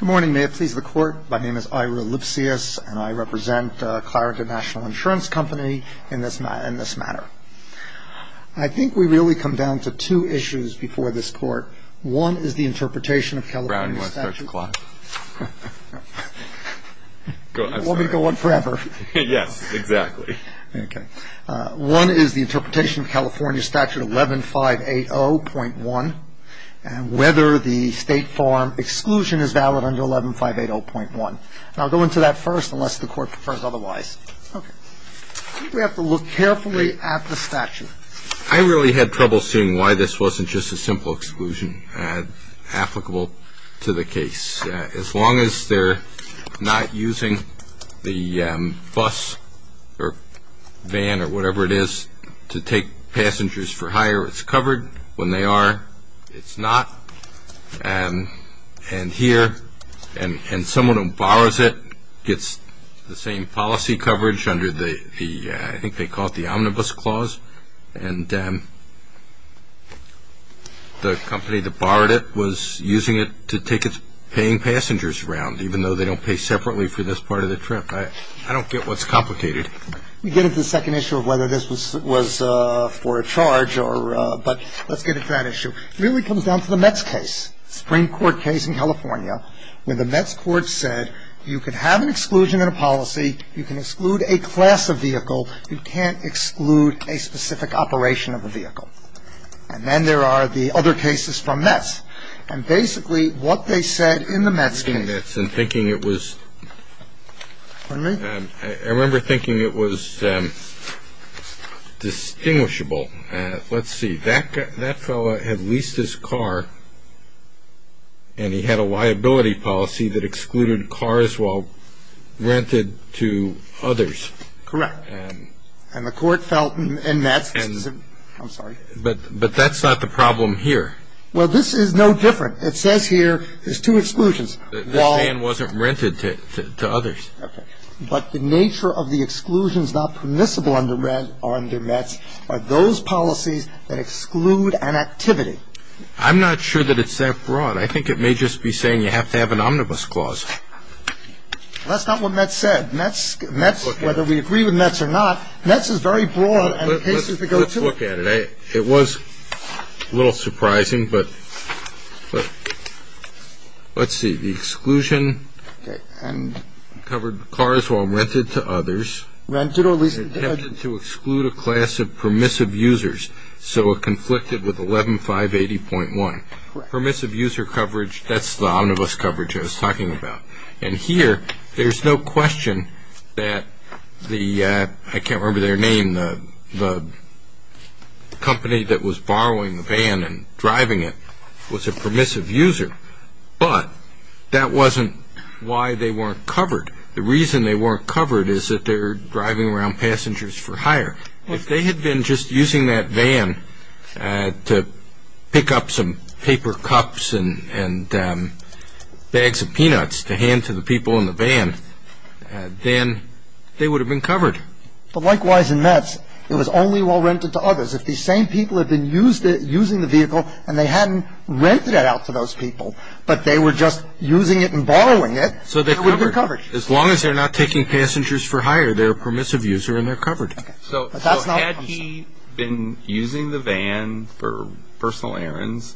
Good morning, may it please the court. My name is Ira Lipsius and I represent Claredon National Insurance Company in this matter. I think we really come down to two issues before this court. One is the interpretation of California statute... Brown, do you want to start the clock? You want me to go on forever? Yes, exactly. Okay. One is the interpretation of California statute 11-580.1 and whether the state farm exclusion is valid under 11-580.1. And I'll go into that first unless the court prefers otherwise. Okay. I think we have to look carefully at the statute. I really had trouble seeing why this wasn't just a simple exclusion applicable to the case. As long as they're not using the bus or van or whatever it is to take passengers for hire, it's covered. When they are, it's not. And here, and someone who borrows it gets the same policy coverage under the, I think they call it the Omnibus Clause. And the company that borrowed it was using it to take its paying passengers around, even though they don't pay separately for this part of the trip. I don't get what's complicated. We get into the second issue of whether this was for a charge, but let's get into that issue. It really comes down to the METS case, Supreme Court case in California, where the METS court said you can have an exclusion in a policy, you can exclude a class of vehicle, you can't exclude a specific operation of a vehicle. And then there are the other cases from METS. And basically what they said in the METS case. I remember thinking it was distinguishable. Let's see. That fellow had leased his car, and he had a liability policy that excluded cars while rented to others. Correct. And the court felt in METS. I'm sorry. But that's not the problem here. Well, this is no different. It says here there's two exclusions. The van wasn't rented to others. Okay. But the nature of the exclusions not permissible under METS are those policies that exclude an activity. I'm not sure that it's that broad. I think it may just be saying you have to have an Omnibus Clause. That's not what METS said. METS, whether we agree with METS or not, METS is very broad. Let's look at it. It was a little surprising, but let's see. The exclusion covered cars while rented to others. Rented or leased. Attempted to exclude a class of permissive users. So it conflicted with 11-580.1. Correct. Permissive user coverage, that's the omnibus coverage I was talking about. And here there's no question that the, I can't remember their name, the company that was borrowing the van and driving it was a permissive user. But that wasn't why they weren't covered. The reason they weren't covered is that they're driving around passengers for hire. If they had been just using that van to pick up some paper cups and bags of peanuts to hand to the people in the van, then they would have been covered. But likewise in METS, it was only while rented to others. If these same people had been using the vehicle and they hadn't rented it out to those people, but they were just using it and borrowing it, they would have been covered. As long as they're not taking passengers for hire, they're a permissive user and they're covered. So had he been using the van for personal errands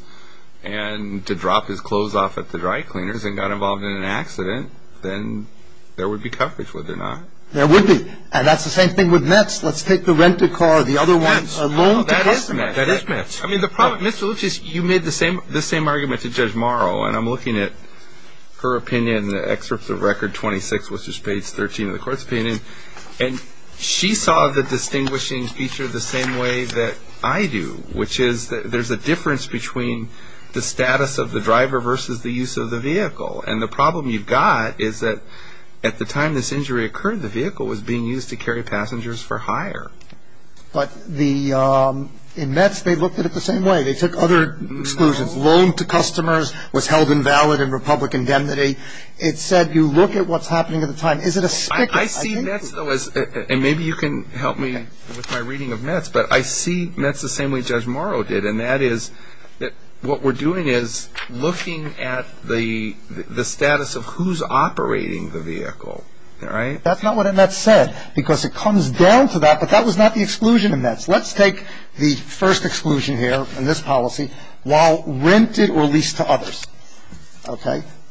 and to drop his clothes off at the dry cleaners and got involved in an accident, then there would be coverage, would there not? There would be. And that's the same thing with METS. Let's take the rented car, the other one alone. That is METS. That is METS. Mr. Lipschitz, you made the same argument to Judge Morrow, and I'm looking at her opinion in the excerpts of Record 26, which is page 13 of the court's opinion. And she saw the distinguishing feature the same way that I do, which is that there's a difference between the status of the driver versus the use of the vehicle. And the problem you've got is that at the time this injury occurred, the vehicle was being used to carry passengers for hire. But in METS, they looked at it the same way. They took other exclusions. Loan to customers was held invalid in Republican indemnity. It said you look at what's happening at the time. I see METS, though, and maybe you can help me with my reading of METS, but I see METS the same way Judge Morrow did, and that is that what we're doing is looking at the status of who's operating the vehicle. All right? That's not what METS said because it comes down to that, but that was not the exclusion in METS. Let's take the first exclusion here in this policy, while rented or leased to others.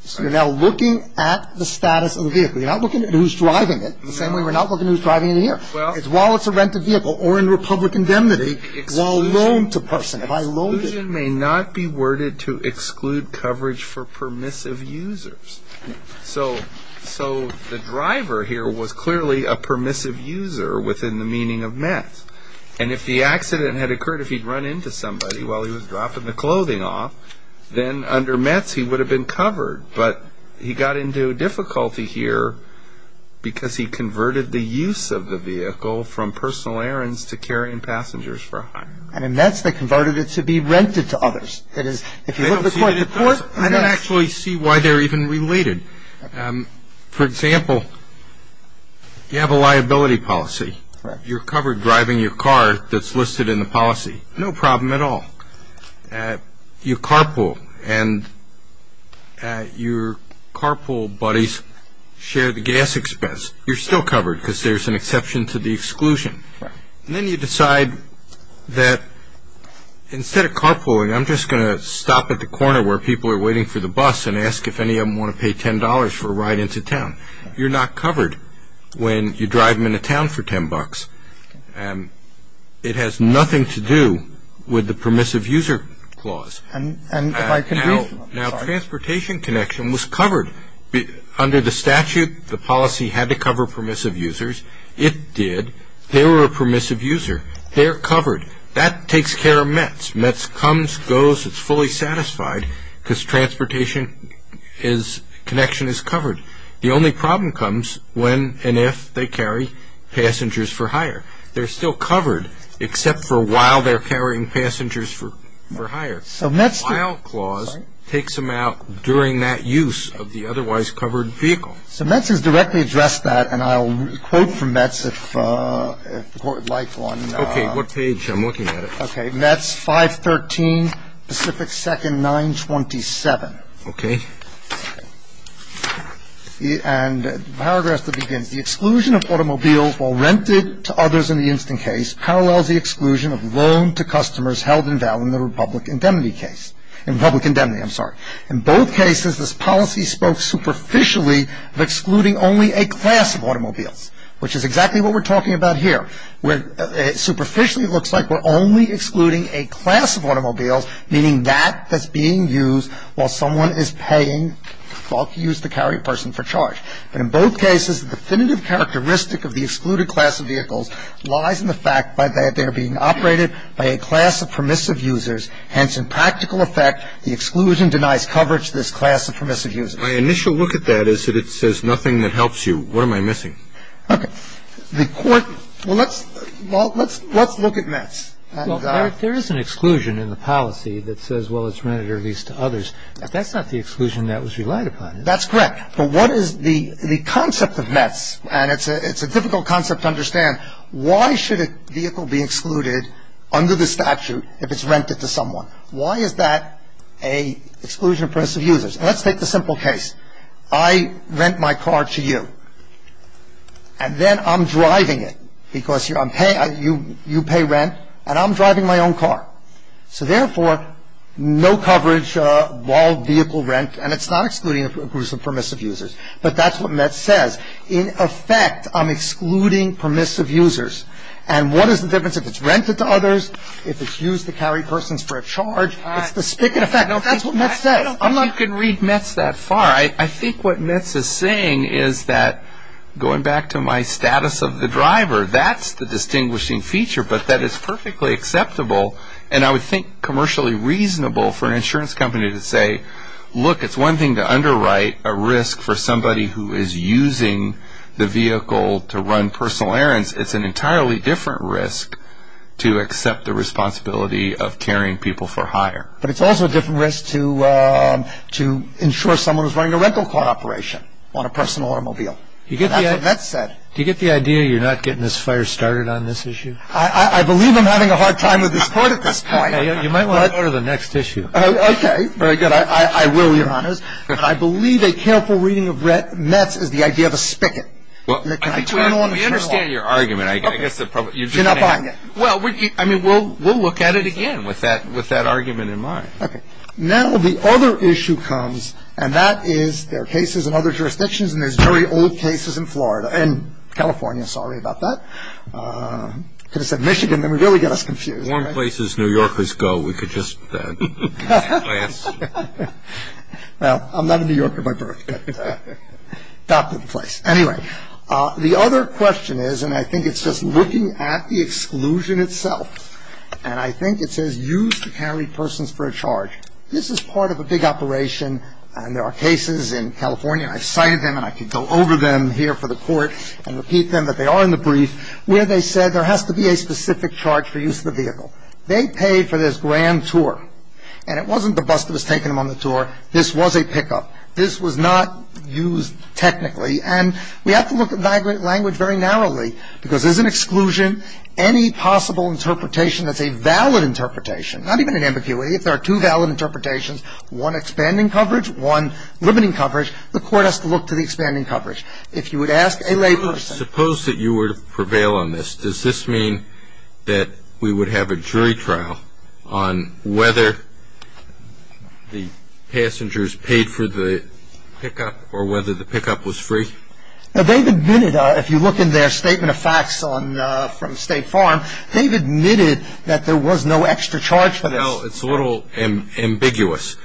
So you're now looking at the status of the vehicle. You're not looking at who's driving it the same way we're not looking at who's driving it here. It's while it's a rented vehicle or in Republican indemnity, while loaned to person. If I loaned it. Exclusion may not be worded to exclude coverage for permissive users. So the driver here was clearly a permissive user within the meaning of METS. And if the accident had occurred, if he'd run into somebody while he was dropping the clothing off, then under METS he would have been covered. But he got into difficulty here because he converted the use of the vehicle from personal errands to carrying passengers for a hire. I mean, METS, they converted it to be rented to others. That is, if you look at the court report. I don't actually see why they're even related. For example, you have a liability policy. You're covered driving your car that's listed in the policy. No problem at all. You carpool and your carpool buddies share the gas expense. You're still covered because there's an exception to the exclusion. And then you decide that instead of carpooling, I'm just going to stop at the corner where people are waiting for the bus and ask if any of them want to pay $10 for a ride into town. You're not covered when you drive them into town for $10. It has nothing to do with the permissive user clause. Now, transportation connection was covered. Under the statute, the policy had to cover permissive users. It did. They were a permissive user. They're covered. That takes care of METS. METS comes, goes, it's fully satisfied because transportation connection is covered. The only problem comes when and if they carry passengers for hire. They're still covered except for while they're carrying passengers for hire. The while clause takes them out during that use of the otherwise covered vehicle. So METS has directly addressed that, and I'll quote from METS if the Court would like one. Okay, what page? I'm looking at it. Okay, METS 513 Pacific 2nd 927. Okay. And paragraph that begins, the exclusion of automobiles while rented to others in the instant case parallels the exclusion of loan to customers held in value in the Republic Indemnity case. In Republic Indemnity, I'm sorry. In both cases, this policy spoke superficially of excluding only a class of automobiles, which is exactly what we're talking about here. Superficially, it looks like we're only excluding a class of automobiles, meaning that that's being used while someone is paying to use the carrier person for charge. But in both cases, the definitive characteristic of the excluded class of vehicles lies in the fact that they are being operated by a class of permissive users. Hence, in practical effect, the exclusion denies coverage to this class of permissive users. My initial look at that is that it says nothing that helps you. What am I missing? Okay. The Court – well, let's look at METS. Well, there is an exclusion in the policy that says, well, it's rented or leased to others. That's not the exclusion that was relied upon. That's correct. But what is the concept of METS? And it's a difficult concept to understand. Why should a vehicle be excluded under the statute if it's rented to someone? Why is that an exclusion of permissive users? Let's take the simple case. I rent my car to you. And then I'm driving it because I'm paying – you pay rent, and I'm driving my own car. So therefore, no coverage while vehicle rent, and it's not excluding permissive users. But that's what METS says. In effect, I'm excluding permissive users. And what is the difference if it's rented to others, if it's used to carry persons for a charge? It's the spigot effect. That's what METS says. I'm not – I don't think you can read METS that far. I think what METS is saying is that, going back to my status of the driver, that's the distinguishing feature, but that is perfectly acceptable, and I would think commercially reasonable for an insurance company to say, look, it's one thing to underwrite a risk for somebody who is using the vehicle to run personal errands. It's an entirely different risk to accept the responsibility of carrying people for hire. But it's also a different risk to ensure someone is running a rental car operation on a personal automobile. That's what METS said. Do you get the idea you're not getting this fire started on this issue? I believe I'm having a hard time with this point at this point. You might want to go to the next issue. Okay, very good. I will, Your Honors. But I believe a careful reading of METS is the idea of a spigot. We understand your argument. You're not buying it. Well, I mean, we'll look at it again with that argument in mind. Okay. Now the other issue comes, and that is there are cases in other jurisdictions, and there's very old cases in Florida and California. Sorry about that. I could have said Michigan. That would really get us confused. One place New Yorkers go, we could just pass. Well, I'm not a New Yorker by birth, but that's the place. Anyway, the other question is, and I think it's just looking at the exclusion itself, and I think it says used to carry persons for a charge. This is part of a big operation, and there are cases in California. I cited them, and I could go over them here for the court and repeat them, but they are in the brief where they said there has to be a specific charge for use of the vehicle. They pay for this grand tour, and it wasn't the bus that was taking them on the tour. This was a pickup. This was not used technically, and we have to look at language very narrowly, because there's an exclusion. Any possible interpretation that's a valid interpretation, not even an ambiguity, if there are two valid interpretations, one expanding coverage, one limiting coverage, the court has to look to the expanding coverage. If you would ask a lay person. Suppose that you were to prevail on this. Does this mean that we would have a jury trial on whether the passengers paid for the pickup or whether the pickup was free? They've admitted, if you look in their statement of facts from State Farm, they've admitted that there was no extra charge for this. No, it's a little ambiguous,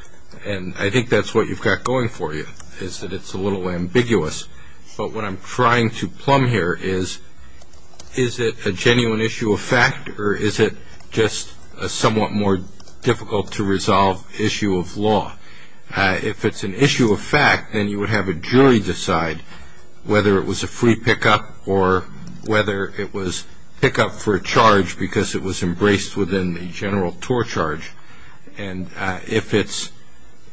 and I think that's what you've got going for you, is that it's a little ambiguous. But what I'm trying to plumb here is, is it a genuine issue of fact, or is it just a somewhat more difficult-to-resolve issue of law? If it's an issue of fact, then you would have a jury decide whether it was a free pickup or whether it was pickup for a charge because it was embraced within the general tour charge. And if it's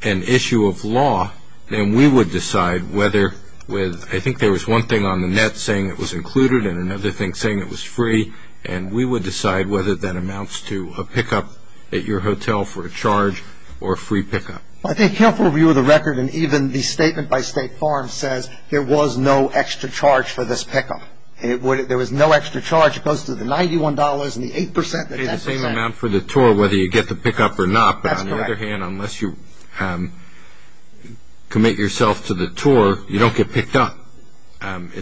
an issue of law, then we would decide whether, I think there was one thing on the net saying it was included and another thing saying it was free, and we would decide whether that amounts to a pickup at your hotel for a charge or a free pickup. I think helpful view of the record, and even the statement by State Farm, says there was no extra charge for this pickup. There was no extra charge as opposed to the $91 and the 8% and the 10%. You pay the same amount for the tour whether you get the pickup or not, but on the other hand, unless you commit yourself to the tour, you don't get picked up.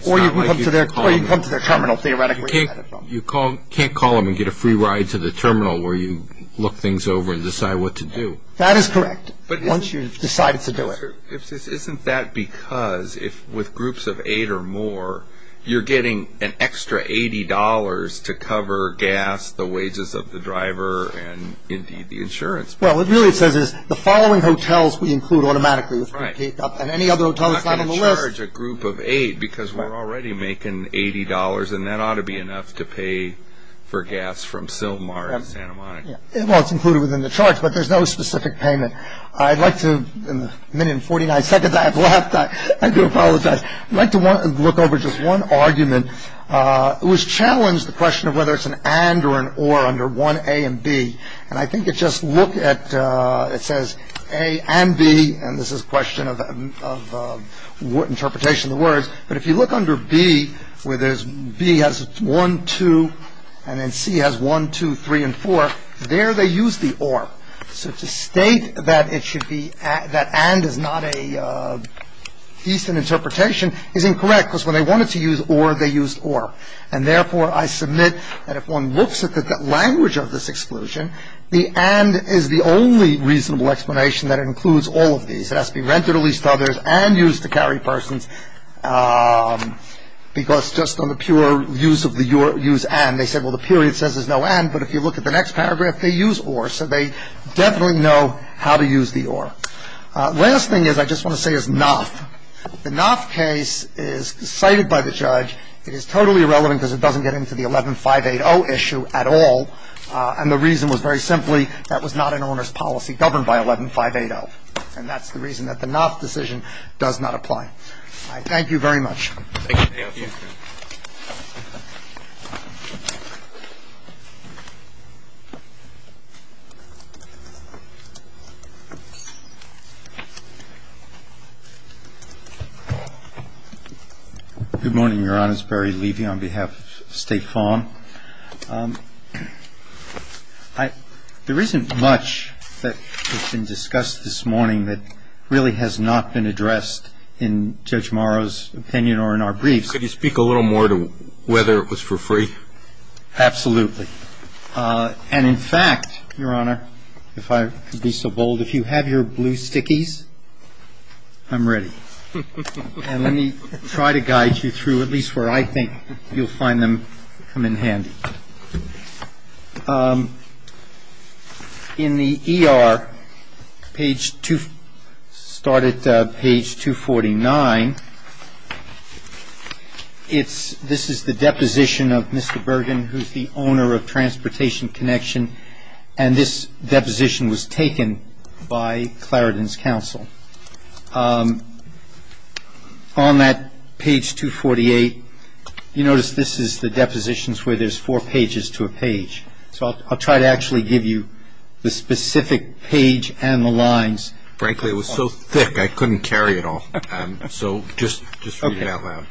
Or you come to their terminal, theoretically. You can't call them and get a free ride to the terminal where you look things over and decide what to do. That is correct, once you've decided to do it. Isn't that because if with groups of eight or more, you're getting an extra $80 to cover gas, the wages of the driver, and indeed the insurance. Well, what it really says is the following hotels we include automatically. Right. And any other hotels not on the list. It's not going to charge a group of eight because we're already making $80, and that ought to be enough to pay for gas from Sylmar to Santa Monica. Well, it's included within the charge, but there's no specific payment. I'd like to, in the minute and 49 seconds I have left, I do apologize. I'd like to look over just one argument. It was challenged the question of whether it's an and or an or under 1A and B. And I think it just looked at it says A and B. And this is a question of what interpretation of the words. But if you look under B, where there's B has one, two, and then C has one, two, three and four. There they use the or. So to state that it should be that and is not a decent interpretation is incorrect because when they wanted to use or, they used or. And therefore, I submit that if one looks at the language of this exclusion, the and is the only reasonable explanation that includes all of these. It has to be rented or leased to others and used to carry persons because just on the pure use of the use and. They said, well, the period says there's no and, but if you look at the next paragraph, they use or. So they definitely know how to use the or. Last thing is I just want to say is not. The not case is cited by the judge. It is totally irrelevant because it doesn't get into the 11-580 issue at all. And the reason was very simply that was not an owner's policy governed by 11-580. And that's the reason that the not decision does not apply. I thank you very much. Thank you. Good morning, Your Honor. It's Barry Levy on behalf of State Farm. There isn't much that's been discussed this morning that really has not been addressed in Judge Morrow's opinion or in our briefs. Could you speak a little more to whether it was for free? Absolutely. And in fact, Your Honor, if I could be so bold, if you have your blue stickies, I'm ready. And let me try to guide you through at least where I think you'll find them come in handy. In the ER, start at page 249, this is the deposition of Mr. Bergen, who's the owner of Transportation Connection, and this deposition was taken by Claredon's counsel. On that page 248, you notice this is the depositions where there's four pages to a page. So I'll try to actually give you the specific page and the lines. Frankly, it was so thick I couldn't carry it all. So just read it out loud.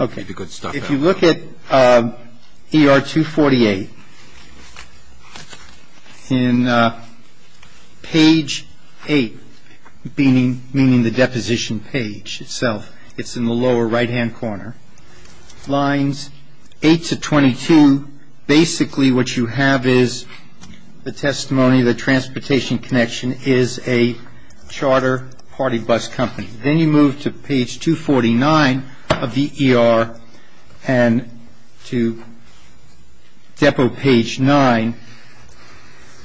Okay. Read the good stuff out loud. If you look at ER 248, in page 8, meaning the deposition page itself, it's in the lower right-hand corner, lines 8 to 22, basically what you have is the testimony that Transportation Connection is a charter party bus company. Then you move to page 249 of the ER and to depo page 9,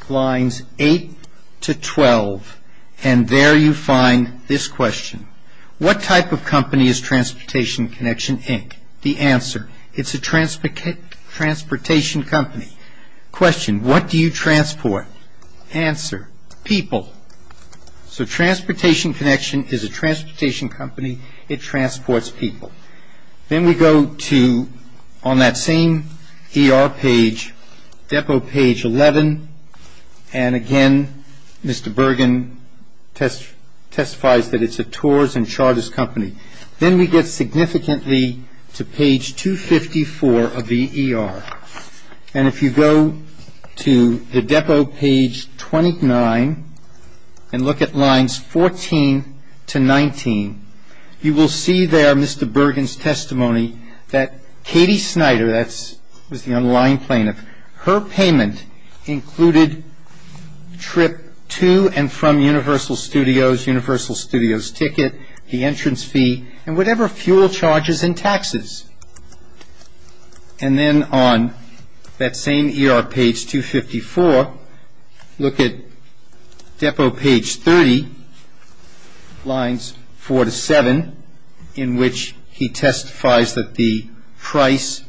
lines 8 to 12, and there you find this question. What type of company is Transportation Connection, Inc.? The answer, it's a transportation company. Question, what do you transport? Answer, people. So Transportation Connection is a transportation company. It transports people. Then we go to, on that same ER page, depo page 11, and again, Mr. Bergen testifies that it's a tours and charters company. Then we get significantly to page 254 of the ER. And if you go to the depo page 29 and look at lines 14 to 19, you will see there Mr. Bergen's testimony that Katie Snyder, that was the underlying plaintiff, her payment included trip to and from Universal Studios, Universal Studios ticket, the entrance fee, and whatever fuel charges and taxes. And then on that same ER page 254, look at depo page 30, lines 4 to 7, in which he testifies that the price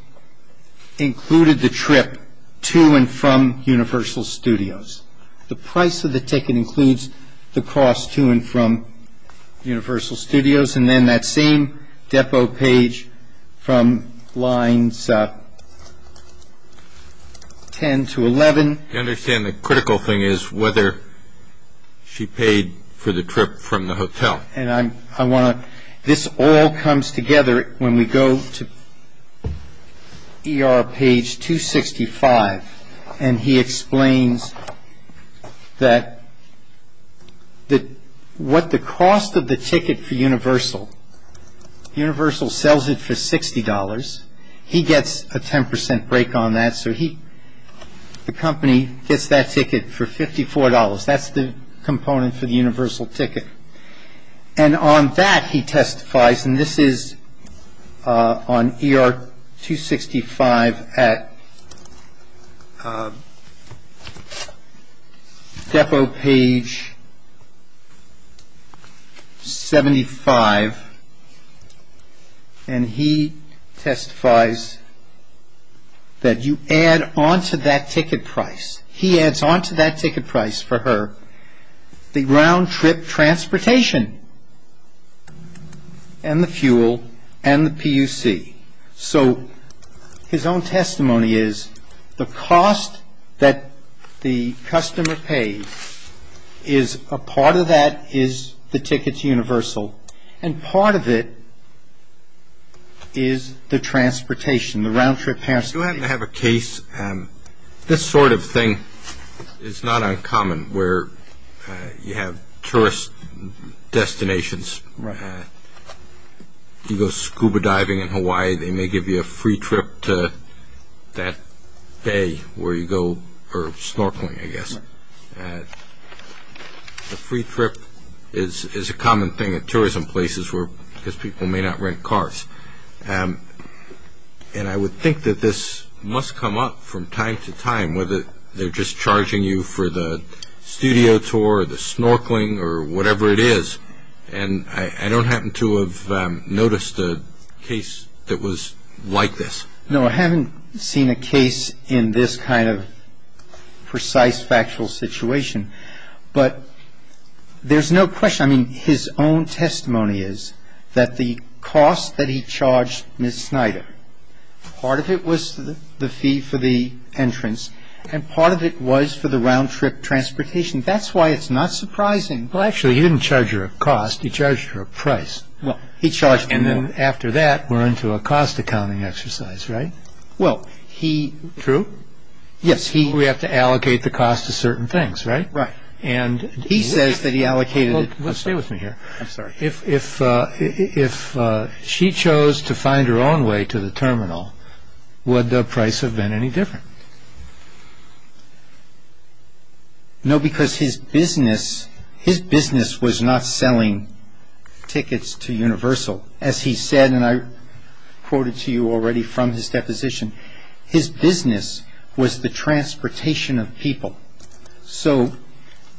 included the trip to and from Universal Studios. The price of the ticket includes the cost to and from Universal Studios. And then that same depo page from lines 10 to 11. I understand the critical thing is whether she paid for the trip from the hotel. And I want to, this all comes together when we go to ER page 265. And he explains that what the cost of the ticket for Universal, Universal sells it for $60. He gets a 10% break on that. So he, the company gets that ticket for $54. That's the component for the Universal ticket. And on that he testifies, and this is on ER 265 at depo page 75. And he testifies that you add on to that ticket price. He adds on to that ticket price for her the round-trip transportation and the fuel and the PUC. So his own testimony is the cost that the customer pays is a part of that is the ticket to Universal. And part of it is the transportation, the round-trip transportation. I do happen to have a case. This sort of thing is not uncommon where you have tourist destinations. You go scuba diving in Hawaii. They may give you a free trip to that bay where you go snorkeling, I guess. A free trip is a common thing at tourism places because people may not rent cars. And I would think that this must come up from time to time, whether they're just charging you for the studio tour or the snorkeling or whatever it is. And I don't happen to have noticed a case that was like this. No, I haven't seen a case in this kind of precise factual situation. But there's no question. I mean, his own testimony is that the cost that he charged Ms. Snyder, part of it was the fee for the entrance and part of it was for the round-trip transportation. That's why it's not surprising. Well, actually, he didn't charge her a cost. He charged her a price. Well, he charged me. And then after that, we're into a cost accounting exercise, right? Well, he. True? Yes, he. We have to allocate the cost to certain things, right? Right. And he says that he allocated. Stay with me here. I'm sorry. If she chose to find her own way to the terminal, would the price have been any different? No, because his business was not selling tickets to Universal. As he said, and I quoted to you already from his deposition, his business was the transportation of people. So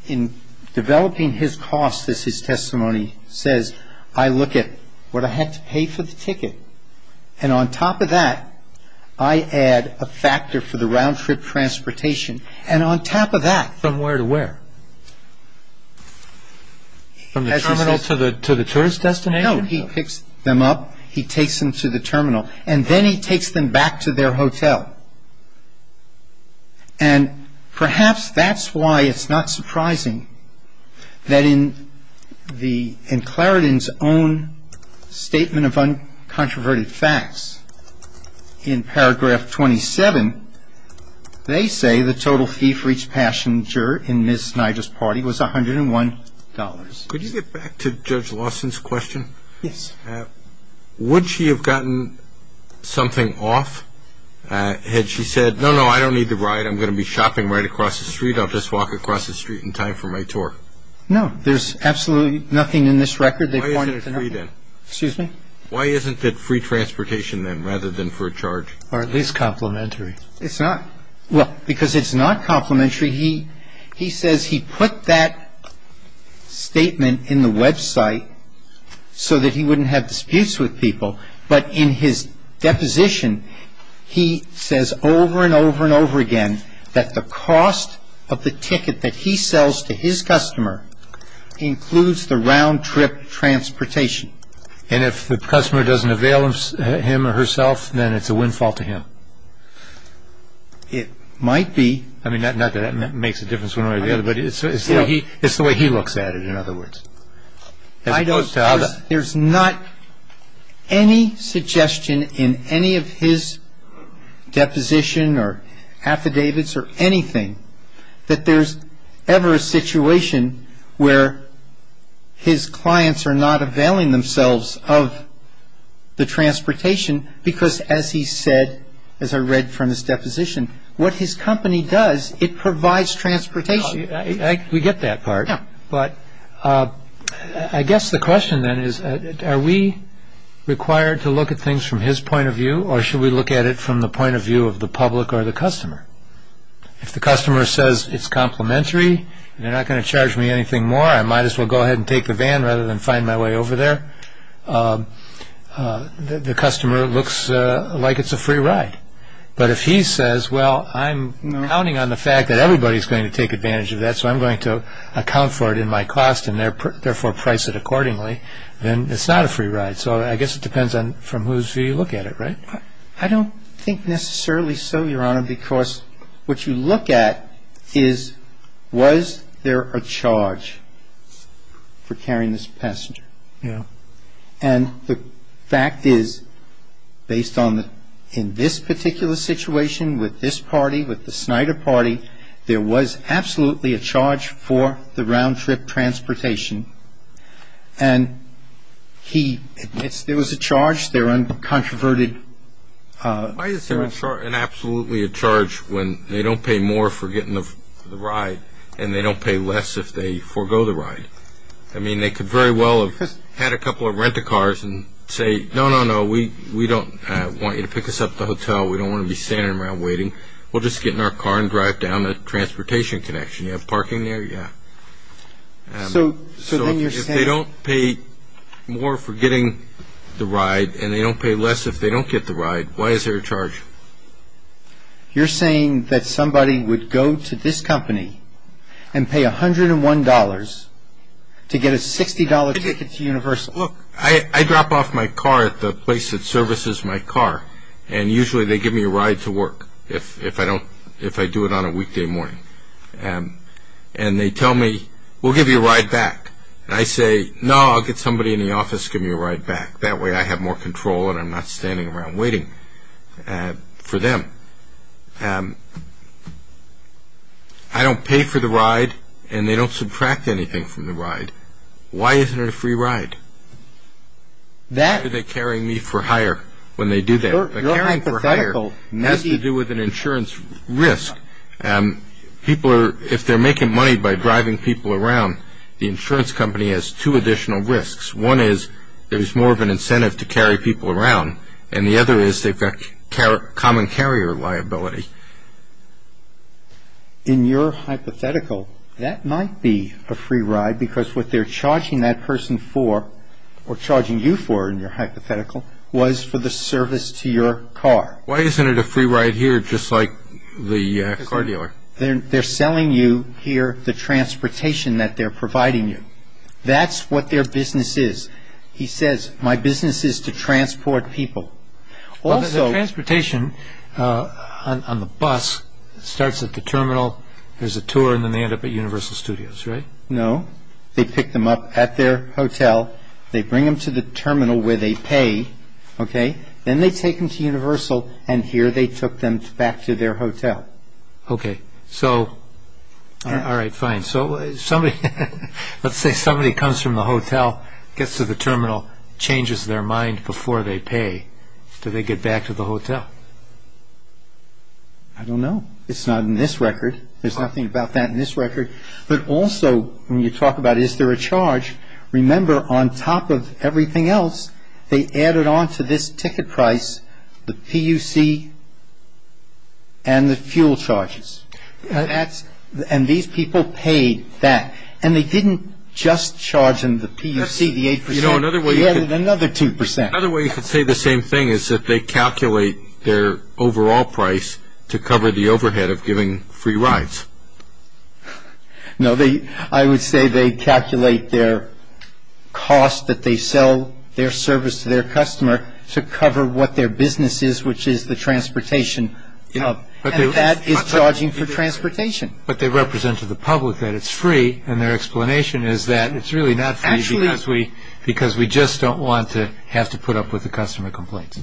in developing his cost, as his testimony says, I look at what I had to pay for the ticket. And on top of that, I add a factor for the round-trip transportation. And on top of that. From where to where? From the terminal to the tourist destination? He takes them to the terminal. And then he takes them back to their hotel. And perhaps that's why it's not surprising that in Clarendon's own statement of uncontroverted facts, in paragraph 27, they say the total fee for each passenger in Ms. Snyder's party was $101. Could you get back to Judge Lawson's question? Yes. Would she have gotten something off had she said, no, no, I don't need the ride, I'm going to be shopping right across the street, I'll just walk across the street in time for my tour? No, there's absolutely nothing in this record that pointed to that. Why isn't it free then? Excuse me? Why isn't it free transportation then, rather than for a charge? Or at least complimentary. It's not. Well, because it's not complimentary. He says he put that statement in the website so that he wouldn't have disputes with people. But in his deposition, he says over and over and over again that the cost of the ticket that he sells to his customer includes the round-trip transportation. And if the customer doesn't avail him or herself, then it's a windfall to him? It might be. I mean, not that that makes a difference one way or the other, but it's the way he looks at it, in other words. I don't. There's not any suggestion in any of his deposition or affidavits or anything that there's ever a situation where his clients are not availing themselves of the transportation because, as he said, as I read from his deposition, what his company does, it provides transportation. We get that part. Yeah. But I guess the question then is, are we required to look at things from his point of view, or should we look at it from the point of view of the public or the customer? If the customer says it's complimentary and they're not going to charge me anything more, I might as well go ahead and take the van rather than find my way over there. The customer looks like it's a free ride. But if he says, well, I'm counting on the fact that everybody's going to take advantage of that, so I'm going to account for it in my cost and therefore price it accordingly, then it's not a free ride. So I guess it depends on from whose view you look at it, right? I don't think necessarily so, Your Honor, because what you look at is, was there a charge for carrying this passenger? Yeah. And the fact is, based on in this particular situation with this party, with the Snyder party, there was absolutely a charge for the round-trip transportation. And he admits there was a charge. Why is there absolutely a charge when they don't pay more for getting the ride and they don't pay less if they forego the ride? I mean, they could very well have had a couple of renter cars and say, no, no, no, we don't want you to pick us up at the hotel. We don't want to be standing around waiting. We'll just get in our car and drive down a transportation connection. You have parking there? Yeah. So if they don't pay more for getting the ride and they don't pay less if they don't get the ride, why is there a charge? You're saying that somebody would go to this company and pay $101 to get a $60 ticket to Universal? Look, I drop off my car at the place that services my car, and usually they give me a ride to work if I do it on a weekday morning. And they tell me, we'll give you a ride back. And I say, no, I'll get somebody in the office to give me a ride back. That way I have more control and I'm not standing around waiting for them. I don't pay for the ride and they don't subtract anything from the ride. Why isn't it a free ride? Why are they carrying me for hire when they do that? Your hypothetical has to do with an insurance risk. If they're making money by driving people around, the insurance company has two additional risks. One is there's more of an incentive to carry people around, and the other is they've got common carrier liability. In your hypothetical, that might be a free ride because what they're charging that person for or charging you for in your hypothetical was for the service to your car. Why isn't it a free ride here just like the car dealer? They're selling you here the transportation that they're providing you. That's what their business is. He says, my business is to transport people. The transportation on the bus starts at the terminal, there's a tour, and then they end up at Universal Studios, right? No. They pick them up at their hotel. They bring them to the terminal where they pay. Then they take them to Universal and here they took them back to their hotel. Okay. All right, fine. Let's say somebody comes from the hotel, gets to the terminal, changes their mind before they pay. Do they get back to the hotel? I don't know. It's not in this record. There's nothing about that in this record. But also when you talk about is there a charge, remember on top of everything else, they added on to this ticket price the PUC and the fuel charges. And these people paid that. And they didn't just charge them the PUC, the 8%. They added another 2%. Another way you could say the same thing is that they calculate their overall price to cover the overhead of giving free rides. No, I would say they calculate their cost that they sell their service to their customer to cover what their business is, which is the transportation. And that is charging for transportation. But they represent to the public that it's free and their explanation is that it's really not free because we just don't want to have to put up with the customer complaints.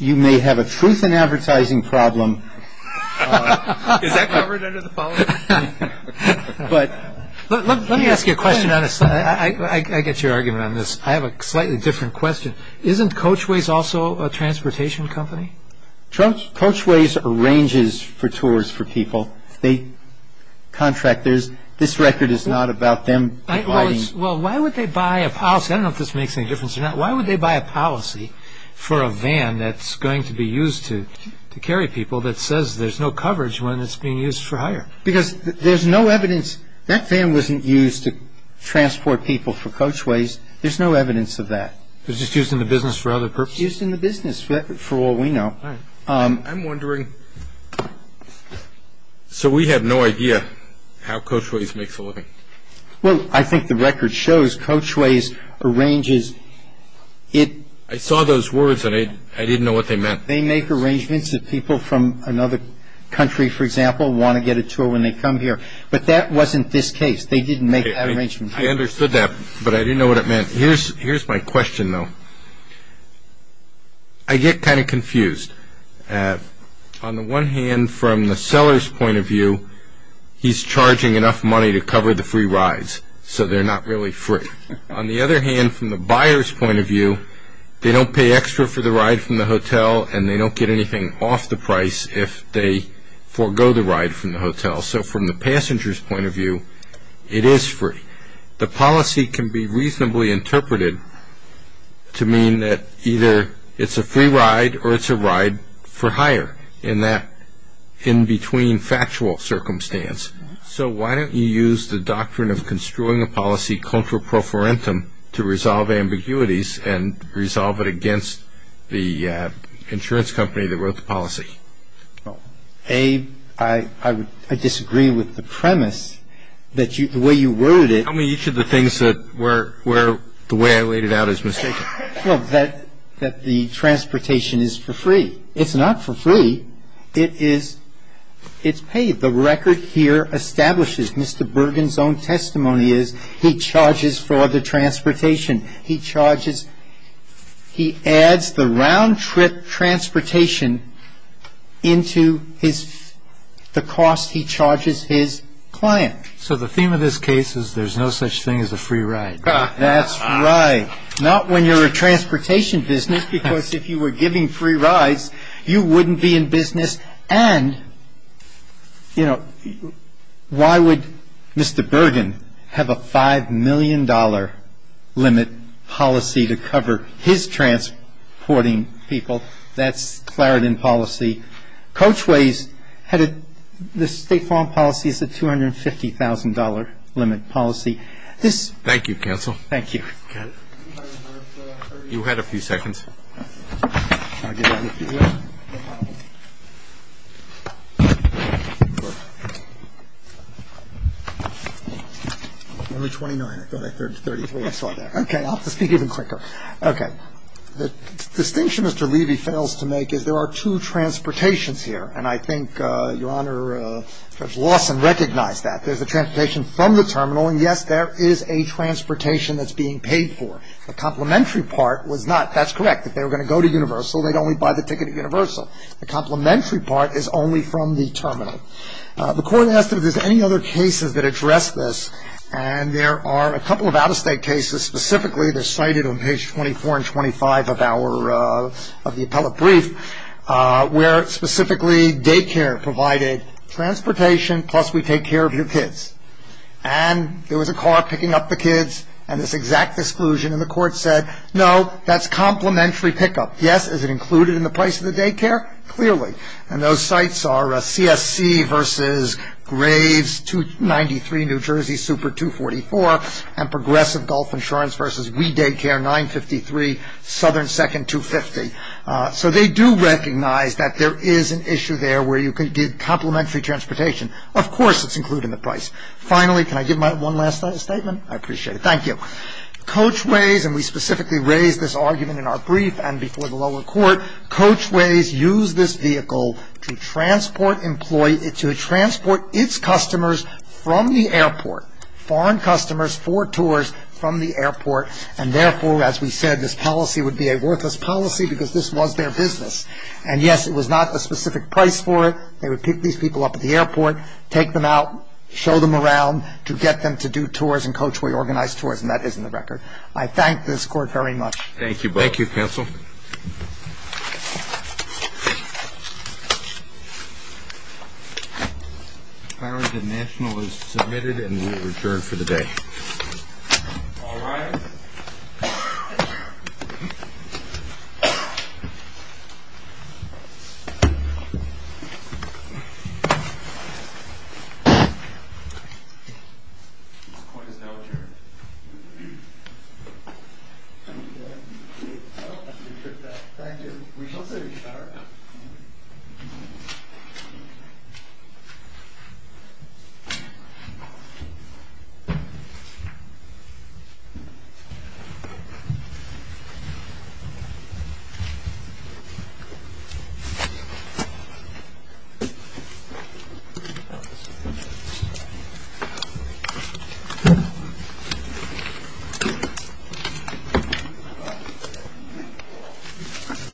You may have a truth in advertising problem. Is that covered under the policy? Let me ask you a question. I get your argument on this. I have a slightly different question. Isn't Coachways also a transportation company? Coachways arranges for tours for people. They contract. This record is not about them. Well, why would they buy a policy? I don't know if this makes any difference or not. Why would they buy a policy for a van that's going to be used to carry people that says there's no coverage when it's being used for hire? Because there's no evidence. That van wasn't used to transport people for Coachways. There's no evidence of that. It was just used in the business for other purposes? Used in the business for all we know. I'm wondering, so we have no idea how Coachways makes a living? Well, I think the record shows Coachways arranges. I saw those words, and I didn't know what they meant. They make arrangements that people from another country, for example, want to get a tour when they come here. But that wasn't this case. They didn't make that arrangement. I understood that, but I didn't know what it meant. Here's my question, though. I get kind of confused. On the one hand, from the seller's point of view, he's charging enough money to cover the free rides, so they're not really free. On the other hand, from the buyer's point of view, they don't pay extra for the ride from the hotel, and they don't get anything off the price if they forego the ride from the hotel. So from the passenger's point of view, it is free. The policy can be reasonably interpreted to mean that either it's a free ride or it's a ride for hire in that in-between factual circumstance. So why don't you use the doctrine of construing a policy contra pro forentum to resolve ambiguities and resolve it against the insurance company that wrote the policy? A, I disagree with the premise that the way you worded it. Tell me each of the things where the way I laid it out is mistaken. Well, that the transportation is for free. It's not for free. It's paid. The record here establishes, Mr. Bergen's own testimony is, he charges for the transportation. He adds the round-trip transportation into the cost he charges his client. So the theme of this case is there's no such thing as a free ride. That's right. Not when you're a transportation business, because if you were giving free rides, you wouldn't be in business. And, you know, why would Mr. Bergen have a $5 million limit policy to cover his transporting people? That's Clarendon policy. Coachways had a state farm policy as a $250,000 limit policy. Thank you, counsel. Thank you. You had a few seconds. Only 29. I thought I heard 33. I saw that. Okay, I'll speak even quicker. Okay. The distinction Mr. Levy fails to make is there are two transportations here. And I think, Your Honor, Judge Lawson recognized that. There's a transportation from the terminal. And, yes, there is a transportation that's being paid for. The complementary part was not. That's correct. If they were going to go to Universal, they'd only buy the ticket at Universal. The complementary part is only from the terminal. The court asked if there's any other cases that address this. And there are a couple of out-of-state cases. Specifically, they're cited on page 24 and 25 of the appellate brief, where specifically daycare provided transportation, plus we take care of your kids. And there was a car picking up the kids. And this exact disclusion in the court said, no, that's complementary pickup. Yes, is it included in the price of the daycare? Clearly. And those sites are CSC versus Graves 293, New Jersey, Super 244, and Progressive Gulf Insurance versus We Daycare 953, Southern Second 250. So they do recognize that there is an issue there where you can get complementary transportation. Of course it's included in the price. Finally, can I give one last statement? I appreciate it. Thank you. Coachways, and we specifically raised this argument in our brief and before the lower court, Coachways used this vehicle to transport its customers from the airport, foreign customers for tours from the airport. And therefore, as we said, this policy would be a worthless policy because this was their business. And, yes, it was not a specific price for it. They would pick these people up at the airport, take them out, show them around to get them to do tours, and Coachway organized tours, and that is in the record. I thank this court very much. Thank you both. Thank you, counsel. Thank you. The filing of the national is submitted and will return for the day. All rise. The court is now adjourned. Thank you. We shall say restart.